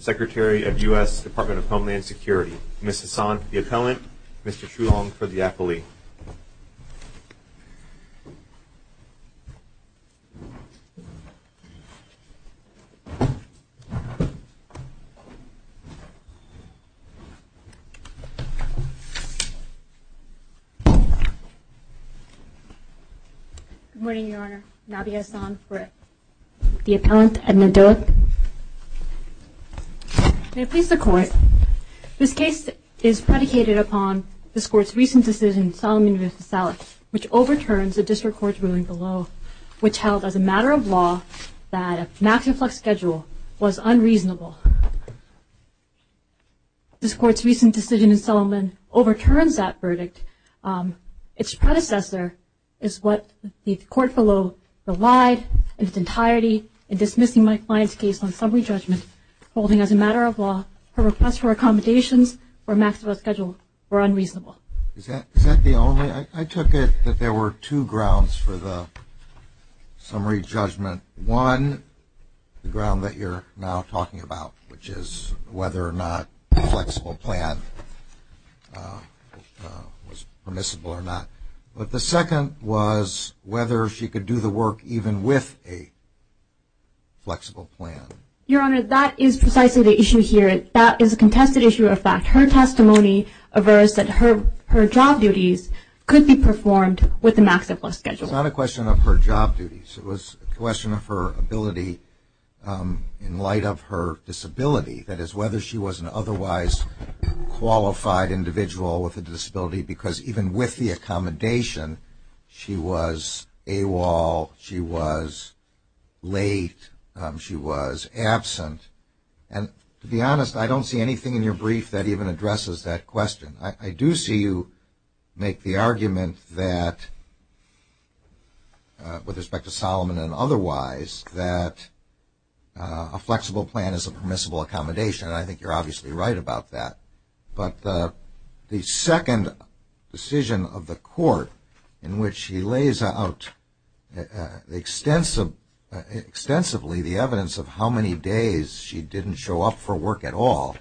Secretary of U.S. Department of Homeland Security Ms. Hassan for the appellant, Mr. Shulong for the appellee Good morning, Your Honor. Nabi Hassan for the appellant, Edna Doak May it please the Court, this case is predicated upon this Court's recent decision in Solomon v. Salek which overturns the District Court's ruling below, which held as a matter of law that a maxi-flux schedule was unreasonable. This Court's recent decision in Solomon overturns that verdict. Its predecessor is what the Court below relied in its entirety in dismissing my client's case on summary judgment holding as a matter of law her request for accommodations for a maxi-flux schedule were unreasonable. Is that the only? I took it that there were two grounds for the summary judgment. One, the ground that you're now talking about, which is whether or not a flexible plan was permissible or not. But the second was whether she could do the work even with a flexible plan. Your Honor, that is precisely the issue here. That is a contested issue of fact. Her testimony averts that her job duties could be performed with a maxi-flux schedule. It was not a question of her job duties. It was a question of her ability in light of her disability. That is, whether she was an otherwise qualified individual with a disability because even with the accommodation she was AWOL, she was late, she was absent. And to be honest, I don't see anything in your brief that even addresses that question. I do see you make the argument that, with respect to Solomon and otherwise, that a flexible plan is a permissible accommodation, and I think you're obviously right about that. But the second decision of the court in which she lays out extensively the evidence of how many days she didn't show up for work at all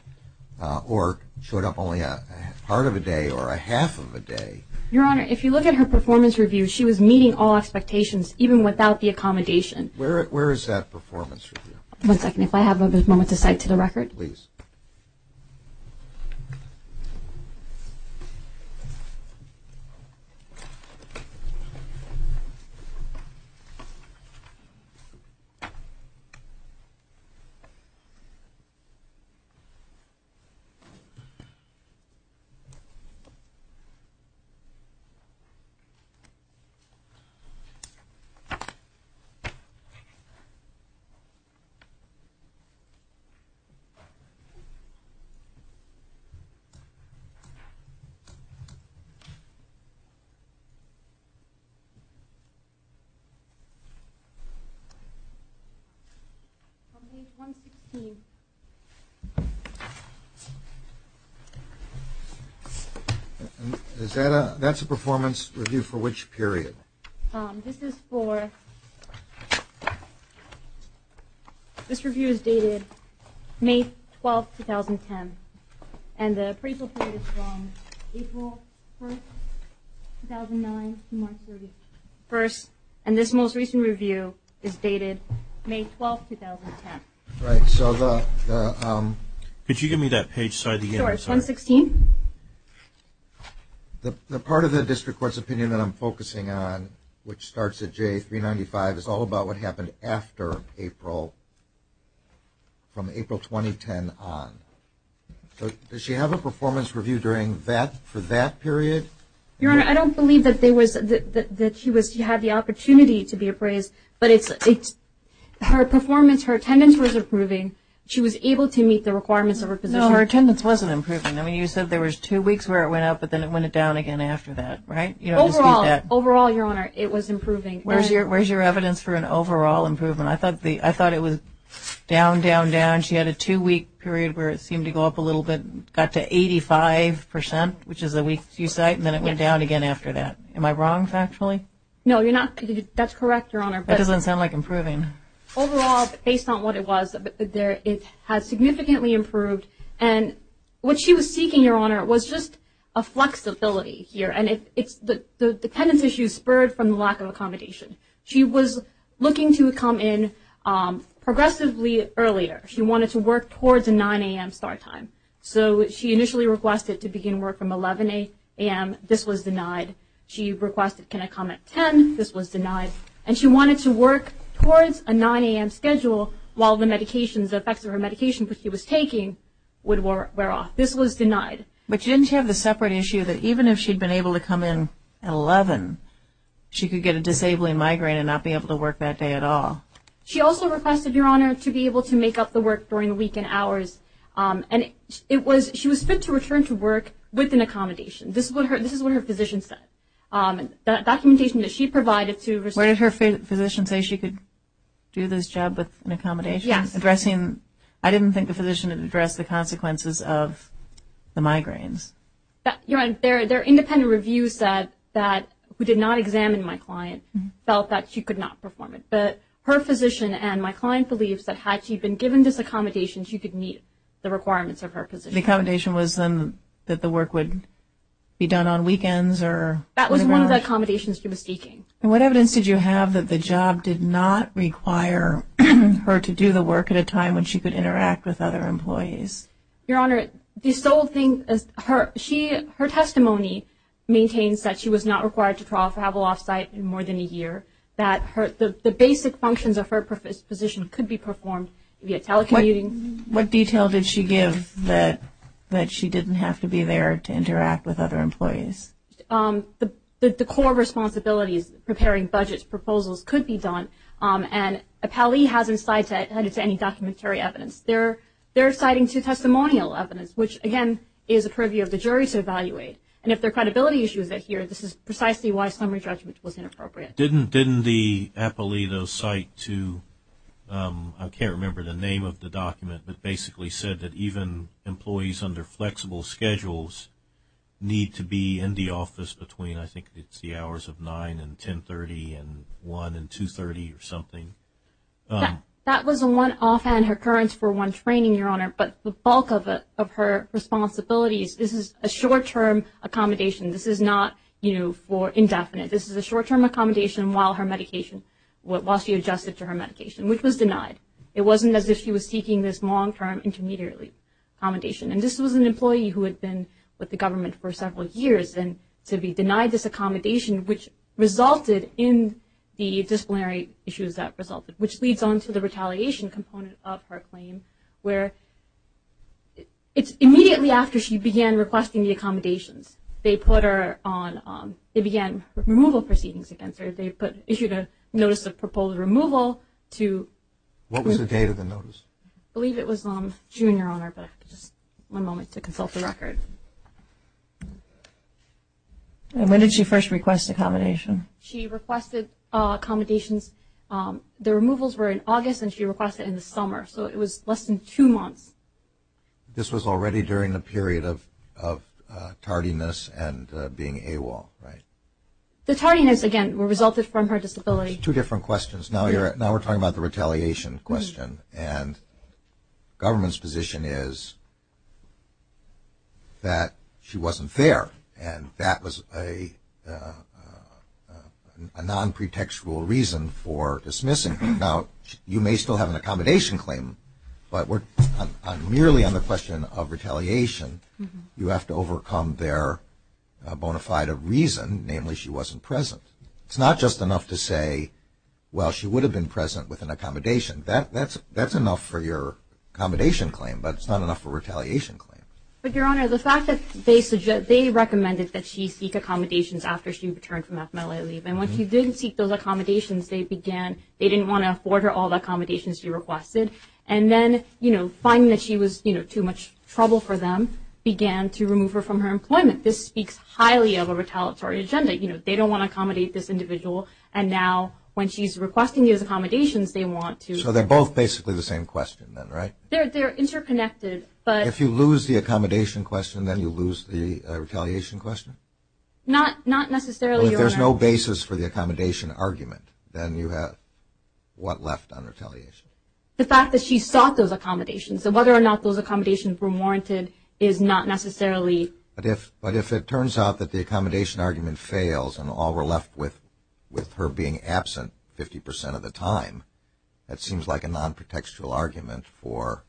or showed up only a part of a day or a half of a day. Your Honor, if you look at her performance review, she was meeting all expectations even without the accommodation. Where is that performance review? One second. If I have a moment to cite to the record. Go ahead, please. I believe 116. That's a performance review for which period? This is for, this review is dated May 12th, 2010. And the appraisal period is from April 1st, 2009 to March 31st. And this most recent review is dated May 12th, 2010. Could you give me that page? Sure, 116. The part of the district court's opinion that I'm focusing on, which starts at J395, is all about what happened after April, from April 2010 on. Does she have a performance review for that period? Your Honor, I don't believe that she had the opportunity to be appraised, but her performance, her attendance was improving. She was able to meet the requirements of her position. Her attendance wasn't improving. I mean, you said there was two weeks where it went up, but then it went down again after that, right? Overall, Your Honor, it was improving. Where's your evidence for an overall improvement? I thought it was down, down, down. She had a two-week period where it seemed to go up a little bit, got to 85%, which is the week you cite, and then it went down again after that. Am I wrong factually? That's correct, Your Honor. That doesn't sound like improving. Overall, based on what it was, it has significantly improved. And what she was seeking, Your Honor, was just a flexibility here, and the attendance issue spurred from the lack of accommodation. She was looking to come in progressively earlier. She wanted to work towards 9 a.m. start time. So she initially requested to begin work from 11 a.m. This was denied. She requested, can I come at 10? This was denied. And she wanted to work towards a 9 a.m. schedule while the medications, the effects of her medication, which she was taking, would wear off. This was denied. But didn't she have the separate issue that even if she'd been able to come in at 11, she could get a disabling migraine and not be able to work that day at all? She also requested, Your Honor, to be able to make up the work during the weekend hours. And she was fit to return to work with an accommodation. This is what her physician said. The documentation that she provided to her physician. What did her physician say? She could do this job with an accommodation? Yes. Addressing, I didn't think the physician had addressed the consequences of the migraines. Your Honor, their independent review said that, who did not examine my client felt that she could not perform it. But her physician and my client believes that had she been given this accommodation, she could meet the requirements of her position. The accommodation was then that the work would be done on weekends? That was one of the accommodations she was seeking. And what evidence did you have that the job did not require her to do the work at a time when she could interact with other employees? Your Honor, the sole thing is her testimony maintains that she was not required to travel off-site in more than a year, that the basic functions of her position could be performed via telecommuting. What detail did she give that she didn't have to be there to interact with other employees? The core responsibilities, preparing budgets, proposals, could be done. And Appellee hasn't cited any documentary evidence. They're citing two testimonial evidence, which, again, is a privy of the jury to evaluate. And if there are credibility issues here, this is precisely why summary judgment was inappropriate. Didn't the Appellee, though, cite to, I can't remember the name of the document, but basically said that even employees under flexible schedules need to be in the office between, I think it's the hours of 9 and 10.30 and 1 and 2.30 or something? That was one offhand recurrence for one training, Your Honor. But the bulk of her responsibilities, this is a short-term accommodation. This is not, you know, indefinite. This is a short-term accommodation while her medication, while she adjusted to her medication, which was denied. It wasn't as if she was seeking this long-term intermediary accommodation. And this was an employee who had been with the government for several years, and to be denied this accommodation, which resulted in the disciplinary issues that resulted, which leads on to the retaliation component of her claim, where it's immediately after she began requesting the accommodations. They put her on, they began removal proceedings against her. They issued a notice of proposed removal to. What was the date of the notice? I believe it was June, Your Honor, but just one moment to consult the record. When did she first request accommodation? She requested accommodations. The removals were in August, and she requested it in the summer. So it was less than two months. This was already during the period of tardiness and being AWOL, right? The tardiness, again, resulted from her disability. Two different questions. Now we're talking about the retaliation question. And government's position is that she wasn't fair, and that was a non-pretextual reason for dismissing her. Now, you may still have an accommodation claim, but merely on the question of retaliation, you have to overcome their bona fide reason, namely she wasn't present. It's not just enough to say, well, she would have been present with an accommodation. That's enough for your accommodation claim, but it's not enough for a retaliation claim. But, Your Honor, the fact that they recommended that she seek accommodations after she returned from FMLA leave, and when she didn't seek those accommodations, they began, they didn't want to afford her all the accommodations she requested. And then, you know, finding that she was, you know, too much trouble for them, began to remove her from her employment. This speaks highly of a retaliatory agenda. You know, they don't want to accommodate this individual, and now when she's requesting these accommodations, they want to. So they're both basically the same question then, right? They're interconnected, but. If you lose the accommodation question, then you lose the retaliation question? Not necessarily, Your Honor. So if there's no basis for the accommodation argument, then you have what left on retaliation? The fact that she sought those accommodations. So whether or not those accommodations were warranted is not necessarily. But if it turns out that the accommodation argument fails and all we're left with, with her being absent 50% of the time, that seems like a non-protextual argument for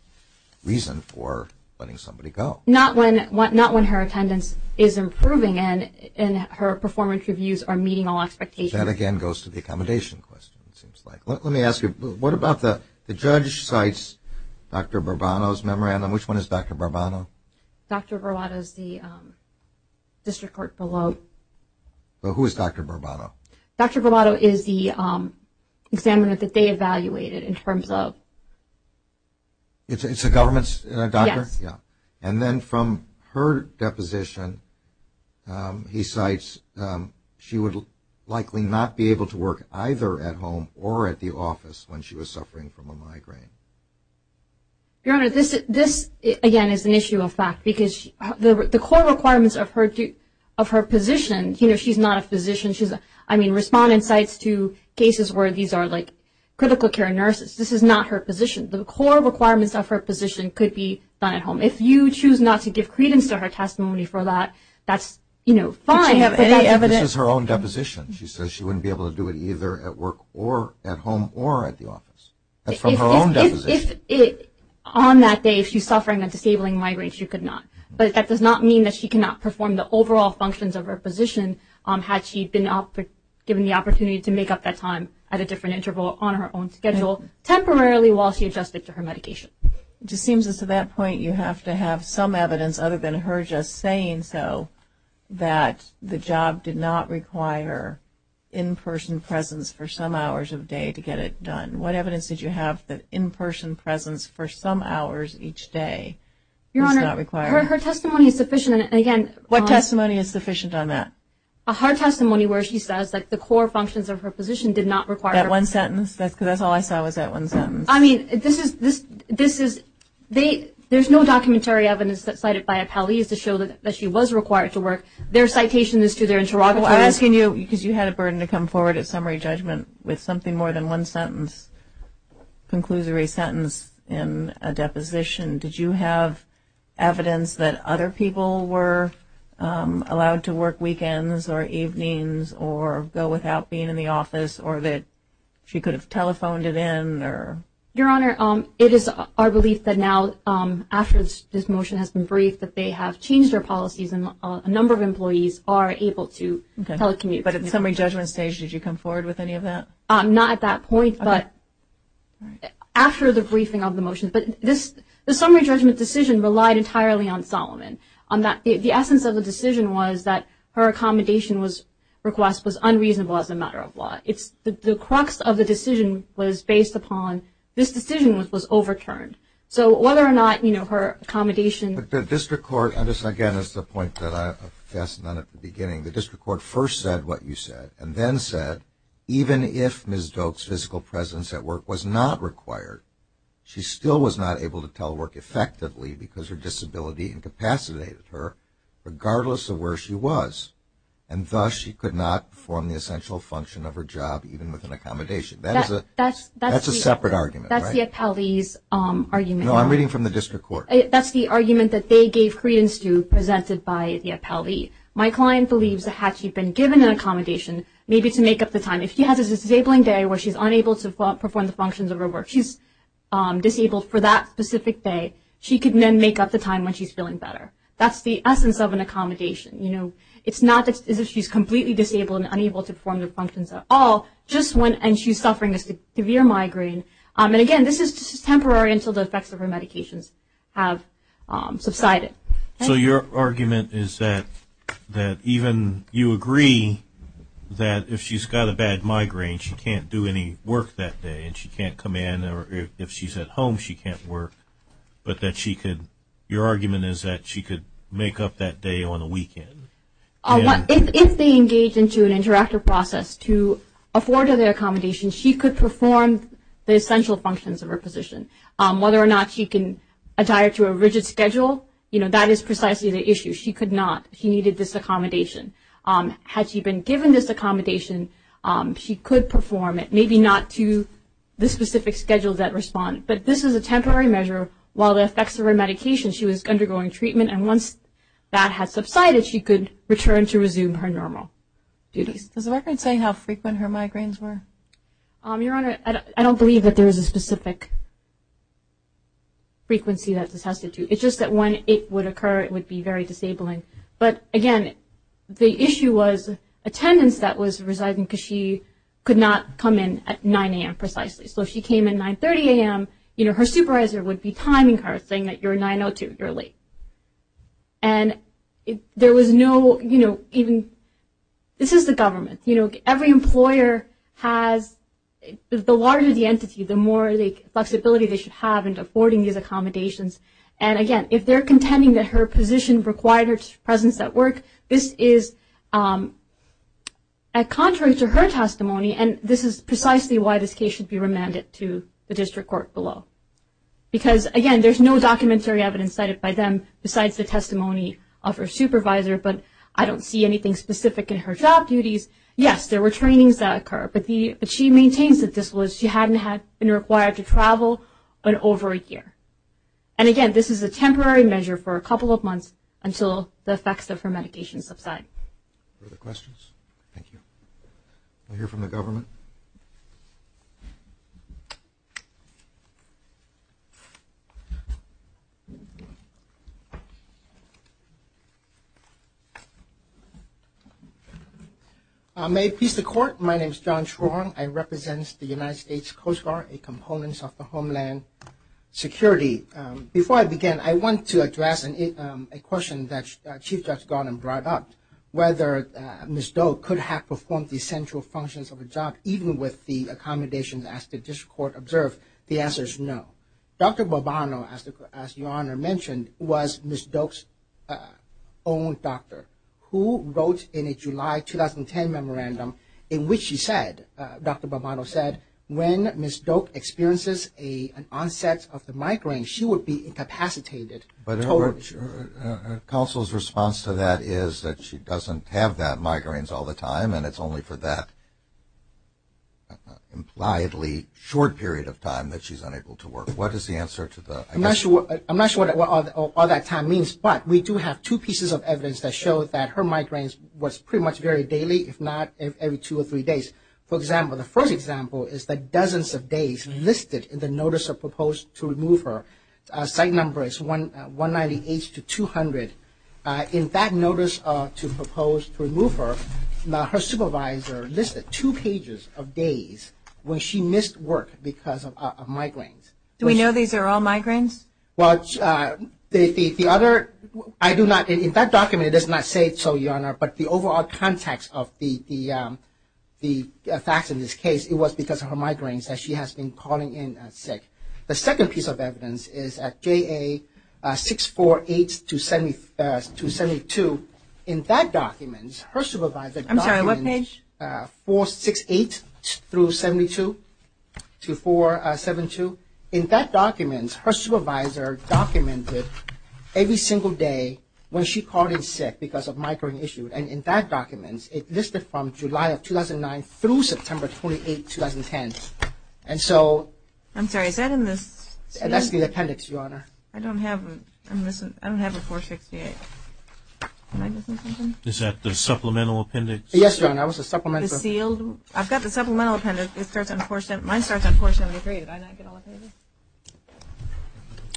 reason for letting somebody go. Not when her attendance is improving and her performance reviews are meeting all expectations. That again goes to the accommodation question, it seems like. Let me ask you, what about the judge cites Dr. Barbato's memorandum? Which one is Dr. Barbato? Dr. Barbato is the district court below. Who is Dr. Barbato? Dr. Barbato is the examiner that they evaluated in terms of. It's a government doctor? Yes. Yeah. And then from her deposition, he cites she would likely not be able to work either at home or at the office when she was suffering from a migraine. Your Honor, this, again, is an issue of fact. Because the core requirements of her position, you know, she's not a physician. I mean, respondent cites two cases where these are like critical care nurses. This is not her position. The core requirements of her position could be done at home. If you choose not to give credence to her testimony for that, that's, you know, fine. But you have any evidence? This is her own deposition. She says she wouldn't be able to do it either at work or at home or at the office. That's from her own deposition. On that day, if she's suffering a disabling migraine, she could not. But that does not mean that she cannot perform the overall functions of her position, had she been given the opportunity to make up that time at a different interval on her own schedule, temporarily while she adjusted to her medication. It just seems as to that point you have to have some evidence, other than her just saying so, that the job did not require in-person presence for some hours of day to get it done. What evidence did you have that in-person presence for some hours each day is not required? Your Honor, her testimony is sufficient. And, again, What testimony is sufficient on that? Her testimony where she says that the core functions of her position did not require Is that one sentence? Because that's all I saw was that one sentence. I mean, this is – there's no documentary evidence that cited by Appellees to show that she was required to work. Their citation is to their interrogatory Well, I'm asking you because you had a burden to come forward at summary judgment with something more than one sentence, conclusory sentence in a deposition. Did you have evidence that other people were allowed to work weekends or evenings or go without being in the office or that she could have telephoned it in? Your Honor, it is our belief that now, after this motion has been briefed, that they have changed their policies and a number of employees are able to telecommute. But at the summary judgment stage, did you come forward with any of that? Not at that point, but after the briefing of the motion. But the summary judgment decision relied entirely on Solomon. The essence of the decision was that her accommodation request was unreasonable as a matter of law. The crux of the decision was based upon this decision was overturned. So whether or not her accommodation But the district court – again, that's the point that I fastened on at the beginning. The district court first said what you said and then said, even if Ms. Doak's physical presence at work was not required, she still was not able to telework effectively because her disability incapacitated her, regardless of where she was. And thus, she could not perform the essential function of her job, even with an accommodation. That's a separate argument, right? That's the appellee's argument. No, I'm reading from the district court. That's the argument that they gave credence to presented by the appellee. My client believes that had she been given an accommodation, maybe to make up the time. If she has a disabling day where she's unable to perform the functions of her work, she's disabled for that specific day, she can then make up the time when she's feeling better. That's the essence of an accommodation. It's not that she's completely disabled and unable to perform the functions at all, just when she's suffering a severe migraine. And again, this is temporary until the effects of her medications have subsided. So your argument is that even you agree that if she's got a bad migraine she can't do any work that day and she can't come in, or if she's at home she can't work, but your argument is that she could make up that day on a weekend. If they engage into an interactive process to afford her the accommodation, she could perform the essential functions of her position. Whether or not she can adhere to a rigid schedule, you know, that is precisely the issue. She could not. She needed this accommodation. Had she been given this accommodation, she could perform it, maybe not to the specific schedules that respond. But this is a temporary measure. While the effects of her medication, she was undergoing treatment, and once that had subsided she could return to resume her normal duties. Is the record saying how frequent her migraines were? Your Honor, I don't believe that there is a specific frequency that this has to do. It's just that when it would occur it would be very disabling. But, again, the issue was attendance that was residing because she could not come in at 9 a.m. precisely. So if she came in 9.30 a.m., you know, her supervisor would be timing her, saying that you're 9.02, you're late. And there was no, you know, even this is the government. You know, every employer has the larger the entity, the more flexibility they should have in affording these accommodations. And, again, if they're contending that her position required her presence at work, this is a contrary to her testimony, and this is precisely why this case should be remanded to the district court below. Because, again, there's no documentary evidence cited by them besides the testimony of her supervisor, but I don't see anything specific in her job duties. Yes, there were trainings that occurred, but she maintains that this was she hadn't been required to travel in over a year. And, again, this is a temporary measure for a couple of months until the effects of her medication subside. Further questions? Thank you. We'll hear from the government. May it please the Court, my name is John Chuang. I represent the United States Coast Guard, a component of the Homeland Security. Before I begin, I want to address a question that Chief Judge Gardner brought up, whether Ms. Doak could have performed the essential functions of a job, even with the accommodations as the district court observed. The answer is no. Dr. Bobano, as Your Honor mentioned, was Ms. Doak's own doctor, who wrote in a July 2010 memorandum in which she said, Dr. Bobano said, when Ms. Doak experiences an onset of the migraine, she would be incapacitated. But her counsel's response to that is that she doesn't have that migraine all the time and it's only for that impliedly short period of time that she's unable to work. What is the answer to that? I'm not sure what all that time means, but we do have two pieces of evidence that show that her migraine was pretty much very daily, if not every two or three days. For example, the first example is the dozens of days listed in the notice of proposed to remove her. The site number is 198 to 200. In that notice to propose to remove her, her supervisor listed two pages of days when she missed work because of migraines. Do we know these are all migraines? Well, the other, I do not, in that document it does not say so, Your Honor, but the overall context of the facts in this case, it was because of her migraines that she has been calling in sick. The second piece of evidence is at JA 648-272. In that document, her supervisor documented- I'm sorry, what page? 468-272. In that document, her supervisor documented every single day when she called in sick because of migraine issue. And in that document, it listed from July of 2009 through September 28, 2010. And so- I'm sorry, is that in this? That's the appendix, Your Honor. I don't have a 468. Is that the supplemental appendix? Yes, Your Honor. The sealed? I've got the supplemental appendix. Mine starts on 473.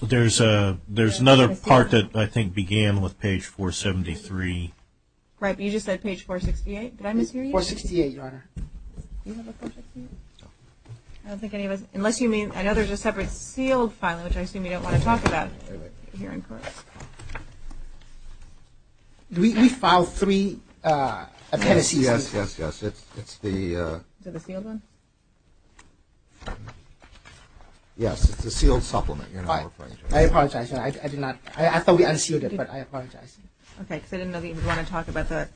There's another part that I think began with page 473. Right, but you just said page 468. Did I mishear you? 468, Your Honor. Do you have a 468? No. I don't think any of us-unless you mean-I know there's a separate sealed file, which I assume you don't want to talk about here in court. We filed three appendices. Yes, yes, yes. It's the- Is it the sealed one? Yes, it's the sealed supplement, Your Honor. I apologize, Your Honor. I did not-I thought we unsealed it, but I apologize. Okay, because I didn't know that you would want to talk about that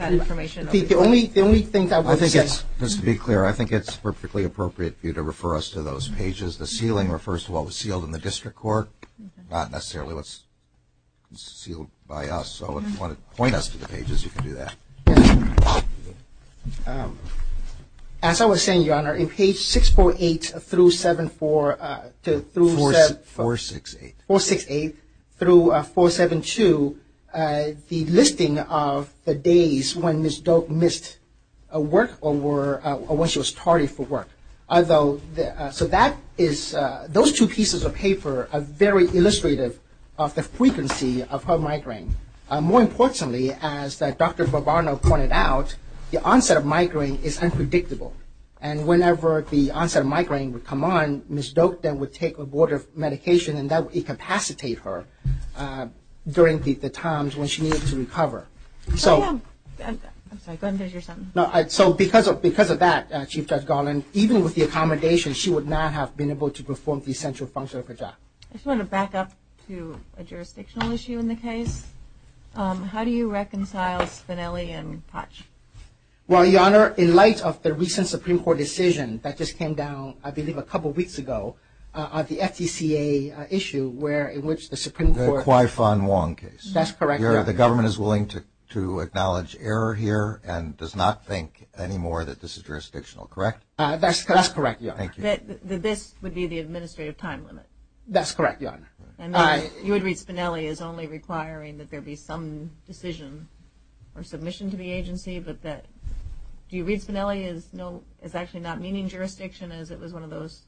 information. The only thing that I would say- Just to be clear, I think it's perfectly appropriate for you to refer us to those pages. The sealing refers to what was sealed in the district court, not necessarily what's sealed by us. So if you want to point us to the pages, you can do that. As I was saying, Your Honor, in page 648 through 74- 468. 468 through 472, the listing of the days when Ms. Doak missed work or when she was tardy for work. Although-so that is-those two pieces of paper are very illustrative of the frequency of her migraine. More importantly, as Dr. Barbano pointed out, the onset of migraine is unpredictable. And whenever the onset of migraine would come on, Ms. Doak then would take a board of medication and that would incapacitate her during the times when she needed to recover. So- I'm sorry. Go ahead and finish your sentence. So because of that, Chief Judge Garland, even with the accommodation, she would not have been able to perform the essential function of her job. I just wanted to back up to a jurisdictional issue in the case. How do you reconcile Spinelli and Potch? Well, Your Honor, in light of the recent Supreme Court decision that just came down, I believe, a couple weeks ago, the FDCA issue where-in which the Supreme Court- The Kwai-Fon Wong case. That's correct, Your Honor. The government is willing to acknowledge error here and does not think anymore that this is jurisdictional, correct? That's correct, Your Honor. Thank you. That's correct, Your Honor. And you would read Spinelli as only requiring that there be some decision or submission to the agency, but that-do you read Spinelli as no-as actually not meaning jurisdiction, as it was one of those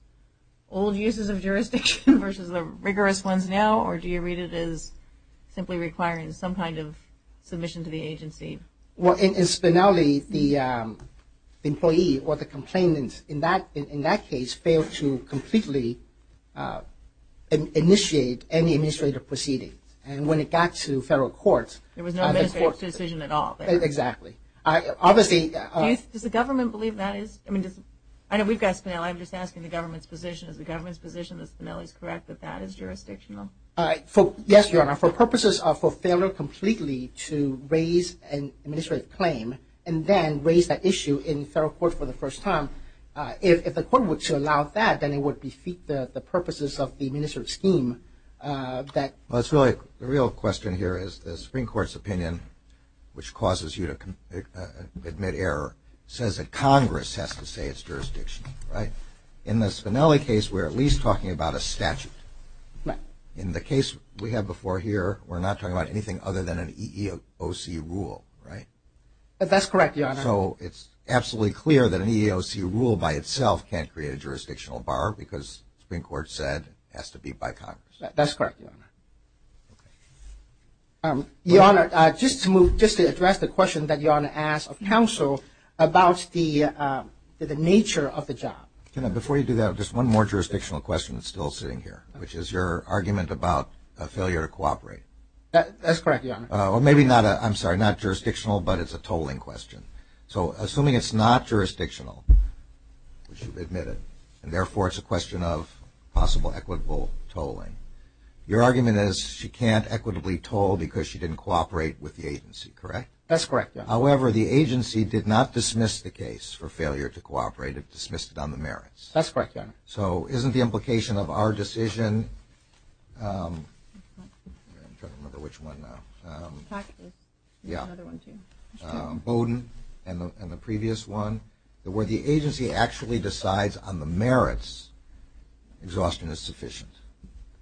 old uses of jurisdiction versus the rigorous ones now, or do you read it as simply requiring some kind of submission to the agency? Well, in Spinelli, the employee or the complainant, in that case, failed to completely initiate any administrative proceedings. And when it got to federal courts- There was no administrative decision at all there. Exactly. Obviously- Does the government believe that is-I know we've got Spinelli. I'm just asking the government's position. Is the government's position that Spinelli is correct, that that is jurisdictional? Yes, Your Honor. For purposes of-for failure completely to raise an administrative claim and then raise that issue in federal court for the first time, if the court were to allow that, then it would defeat the purposes of the administrative scheme that- Well, it's really-the real question here is the Supreme Court's opinion, which causes you to admit error, says that Congress has to say it's jurisdictional, right? In the Spinelli case, we're at least talking about a statute. Right. In the case we have before here, we're not talking about anything other than an EEOC rule, right? That's correct, Your Honor. So it's absolutely clear that an EEOC rule by itself can't create a jurisdictional bar because the Supreme Court said it has to be by Congress. That's correct, Your Honor. Your Honor, just to move-just to address the question that Your Honor asked of counsel about the nature of the job. Before you do that, just one more jurisdictional question that's still sitting here, which is your argument about a failure to cooperate. That's correct, Your Honor. Or maybe not a-I'm sorry, not jurisdictional, but it's a tolling question. So assuming it's not jurisdictional, we should admit it, and therefore it's a question of possible equitable tolling. Your argument is she can't equitably toll because she didn't cooperate with the agency, correct? That's correct, Your Honor. However, the agency did not dismiss the case for failure to cooperate. That's correct, Your Honor. So isn't the implication of our decision-I'm trying to remember which one now-Boden and the previous one, that where the agency actually decides on the merits, exhaustion is sufficient.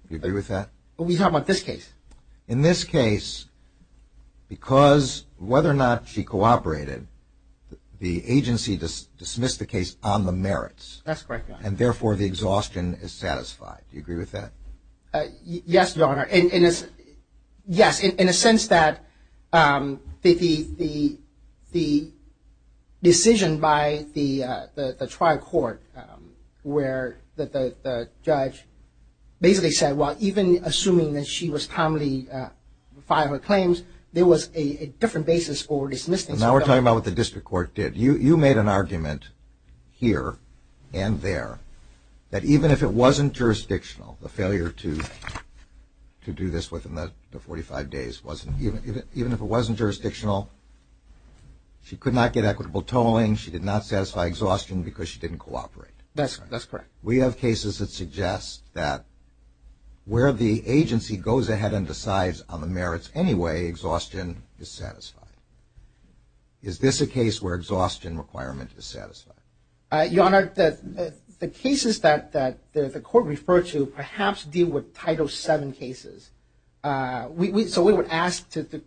Do you agree with that? We're talking about this case. In this case, because whether or not she cooperated, the agency dismissed the case on the merits. That's correct, Your Honor. And therefore the exhaustion is satisfied. Do you agree with that? Yes, Your Honor. Yes, in a sense that the decision by the trial court where the judge basically said, well, even assuming that she was timely to file her claims, there was a different basis for dismissing. Now we're talking about what the district court did. You made an argument here and there that even if it wasn't jurisdictional, the failure to do this within the 45 days, even if it wasn't jurisdictional, she could not get equitable tolling, she did not satisfy exhaustion because she didn't cooperate. That's correct. We have cases that suggest that where the agency goes ahead and decides on the merits anyway, exhaustion is satisfied. Is this a case where exhaustion requirement is satisfied? Your Honor, the cases that the court referred to perhaps deal with Title VII cases. So we would ask to the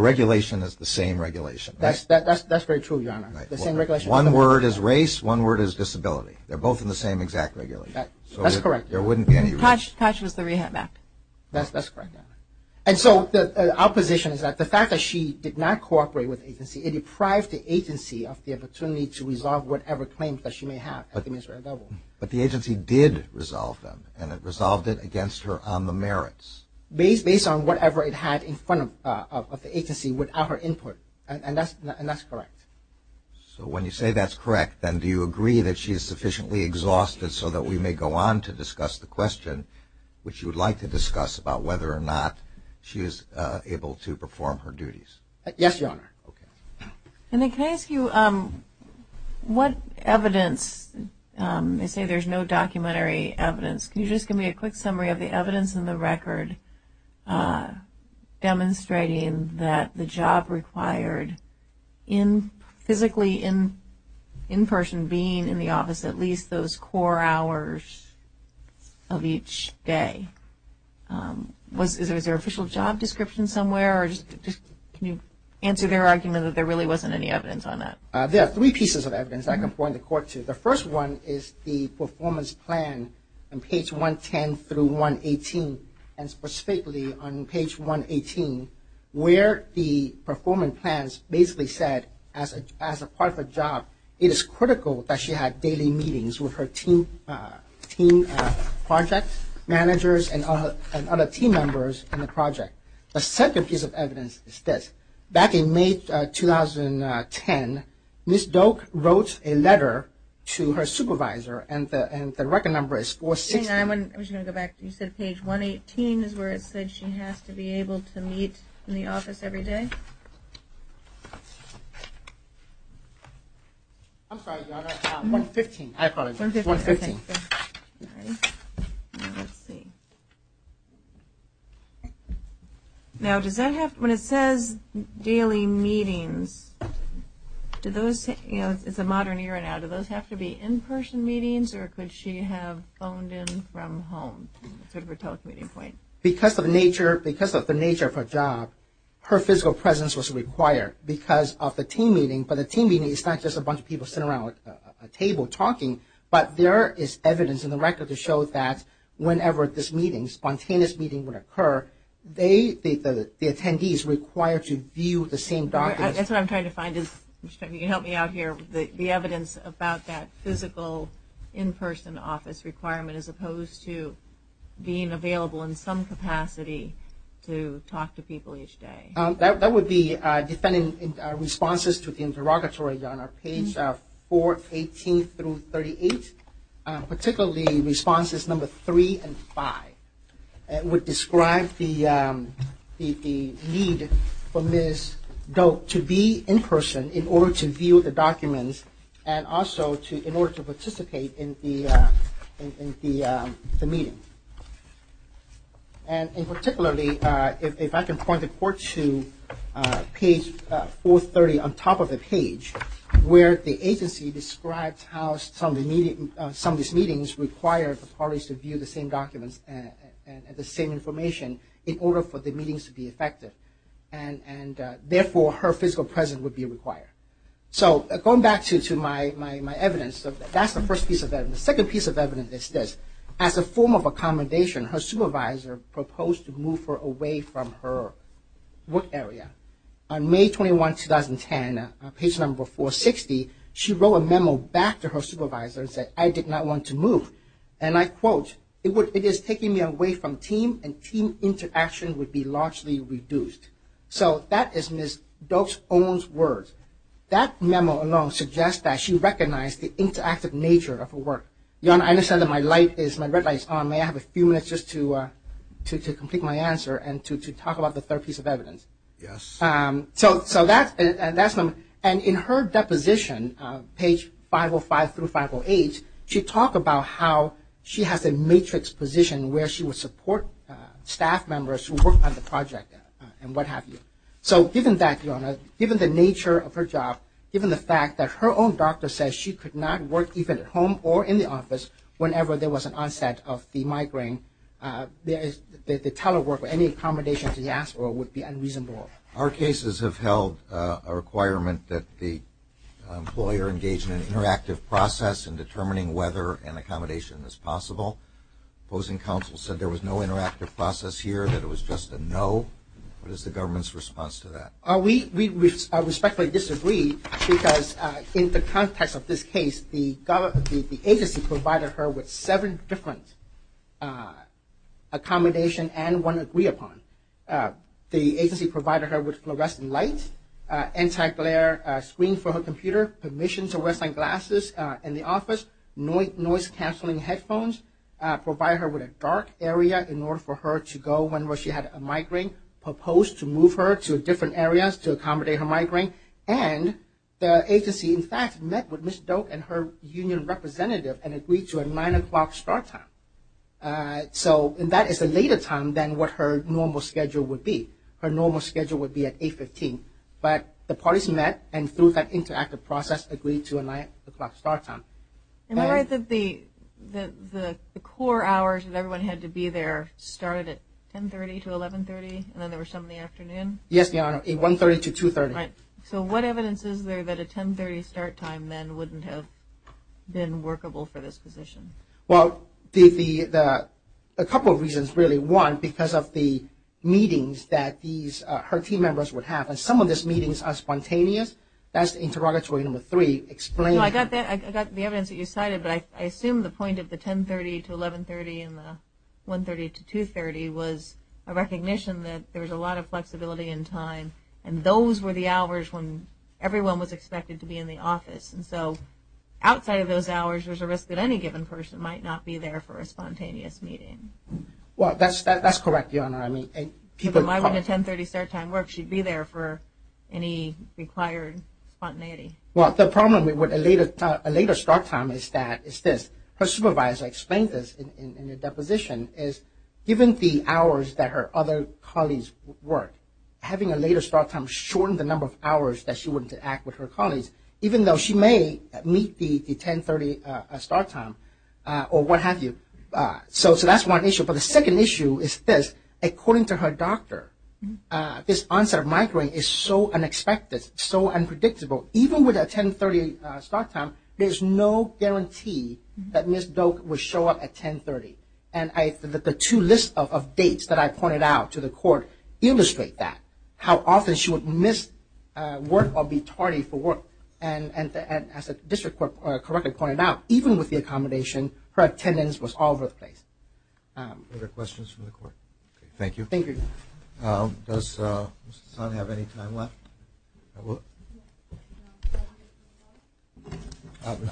regulation is the same regulation. That's very true, Your Honor. The same regulation. One word is race, one word is disability. They're both in the same exact regulation. That's correct. There wouldn't be any race. Koch was the rehab act. That's correct, Your Honor. And so the opposition is that the fact that she did not cooperate with the agency, it deprived the agency of the opportunity to resolve whatever claims that she may have. But the agency did resolve them, and it resolved it against her on the merits. Based on whatever it had in front of the agency without her input, and that's correct. So when you say that's correct, then do you agree that she is sufficiently exhausted so that we may go on to discuss the question, which you would like to discuss about whether or not she is able to perform her duties? Yes, Your Honor. Okay. And then can I ask you what evidence, they say there's no documentary evidence. Can you just give me a quick summary of the evidence in the record demonstrating that the job required physically, in person, being in the office at least those core hours of each day? Is there an official job description somewhere? Can you answer their argument that there really wasn't any evidence on that? There are three pieces of evidence I can point the court to. The first one is the performance plan on page 110 through 118, and specifically on page 118 where the performance plans basically said as a part of a job, it is critical that she had daily meetings with her team project managers and other team members in the project. The second piece of evidence is this. Back in May 2010, Ms. Doak wrote a letter to her supervisor, and the record number is 460. I'm just going to go back. You said page 118 is where it said she has to be able to meet in the office every day? I'm sorry, Your Honor. 115, I apologize. 115. Okay. All right. Now let's see. Now does that have, when it says daily meetings, do those, you know, it's a modern era now, do those have to be in-person meetings or could she have phoned in from home, sort of a telecommuting point? Because of the nature of her job, her physical presence was required because of the team meeting, but the team meeting is not just a bunch of people sitting around a table talking, but there is evidence in the record to show that whenever this meeting, spontaneous meeting would occur, the attendees required to view the same documents. That's what I'm trying to find. Can you help me out here? The evidence about that physical in-person office requirement as opposed to being available in some capacity to talk to people each day. That would be defending responses to the interrogatory on our page 418 through 38, particularly responses number three and five. It would describe the need for Ms. Doak to be in-person in order to view the documents and also in order to participate in the meeting. And particularly, if I can point the court to page 430 on top of the page, where the agency describes how some of these meetings require the parties to view the same documents and the same information in order for the meetings to be effective. And therefore, her physical presence would be required. So going back to my evidence, that's the first piece of evidence. The second piece of evidence is this. As a form of accommodation, her supervisor proposed to move her away from her work area. On May 21, 2010, page number 460, she wrote a memo back to her supervisor and said, I did not want to move. And I quote, it is taking me away from team and team interaction would be largely reduced. So that is Ms. Doak's own words. That memo alone suggests that she recognized the interactive nature of her work. Jan, I understand that my red light is on. May I have a few minutes just to complete my answer and to talk about the third piece of evidence? Yes. So that's the memo. And in her deposition, page 505 through 508, she talked about how she has a matrix position where she would support staff members who work on the project and what have you. So given that, Your Honor, given the nature of her job, given the fact that her own doctor says she could not work even at home or in the office whenever there was an onset of the migraine, the telework or any accommodation to the hospital would be unreasonable. Our cases have held a requirement that the employer engage in an interactive process in determining whether an accommodation is possible. Opposing counsel said there was no interactive process here, that it was just a no. What is the government's response to that? We respectfully disagree because in the context of this case, the agency provided her with seven different accommodations and one to agree upon. The agency provided her with fluorescent lights, anti-glare screen for her computer, permission to wear sunglasses in the office, noise-canceling headphones, provided her with a dark area in order for her to go whenever she had a migraine, proposed to move her to different areas to accommodate her migraine, and the agency, in fact, met with Ms. Doak and her union representative and agreed to a 9 o'clock start time. So that is a later time than what her normal schedule would be. Her normal schedule would be at 8.15. But the parties met and through that interactive process agreed to a 9 o'clock start time. And the core hours that everyone had to be there started at 10.30 to 11.30 and then there were some in the afternoon? Yes, Your Honor, at 1.30 to 2.30. So what evidence is there that a 10.30 start time then wouldn't have been workable for this position? Well, a couple of reasons, really. One, because of the meetings that her team members would have, and some of those meetings are spontaneous. That's interrogatory number three. I got the evidence that you cited, but I assume the point of the 10.30 to 11.30 and the 1.30 to 2.30 was a recognition that there was a lot of flexibility in time and those were the hours when everyone was expected to be in the office. And so outside of those hours, there's a risk that any given person might not be there for a spontaneous meeting. Well, that's correct, Your Honor. I mean, people might not attend 10.30 start time work. She'd be there for any required spontaneity. Well, the problem with a later start time is this. Her supervisor explained this in the deposition, is given the hours that her other colleagues work, having a later start time shortens the number of hours that she wouldn't act with her colleagues, even though she may meet the 10.30 start time or what have you. So that's one issue. But the second issue is this. According to her doctor, this onset of migraine is so unexpected, so unpredictable. Even with a 10.30 start time, there's no guarantee that Ms. Doak would show up at 10.30. And the two lists of dates that I pointed out to the court illustrate that, how often she would miss work or be tardy for work. And as the district court correctly pointed out, even with the accommodation, her attendance was all over the place. Are there questions from the court? Thank you. Thank you. Thank you. Does Ms. Hassan have any time left?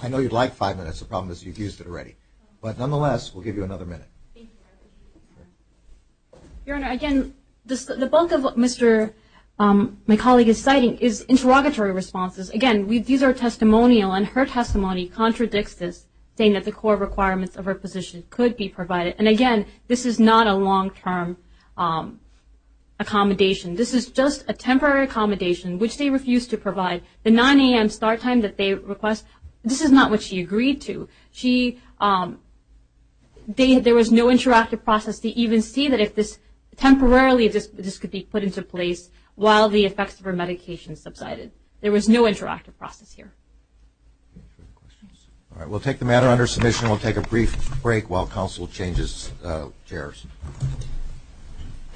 I know you'd like five minutes. The problem is you've used it already. But nonetheless, we'll give you another minute. Thank you. Your Honor, again, the bulk of what my colleague is citing is interrogatory responses. Again, these are testimonial, and her testimony contradicts this, saying that the core requirements of her position could be provided. And again, this is not a long-term accommodation. This is just a temporary accommodation, which they refuse to provide. The 9 a.m. start time that they request, this is not what she agreed to. There was no interactive process to even see that if this temporarily could be put into place while the effects of her medication subsided. There was no interactive process here. All right. We'll take the matter under submission. We'll take a brief break while counsel changes chairs.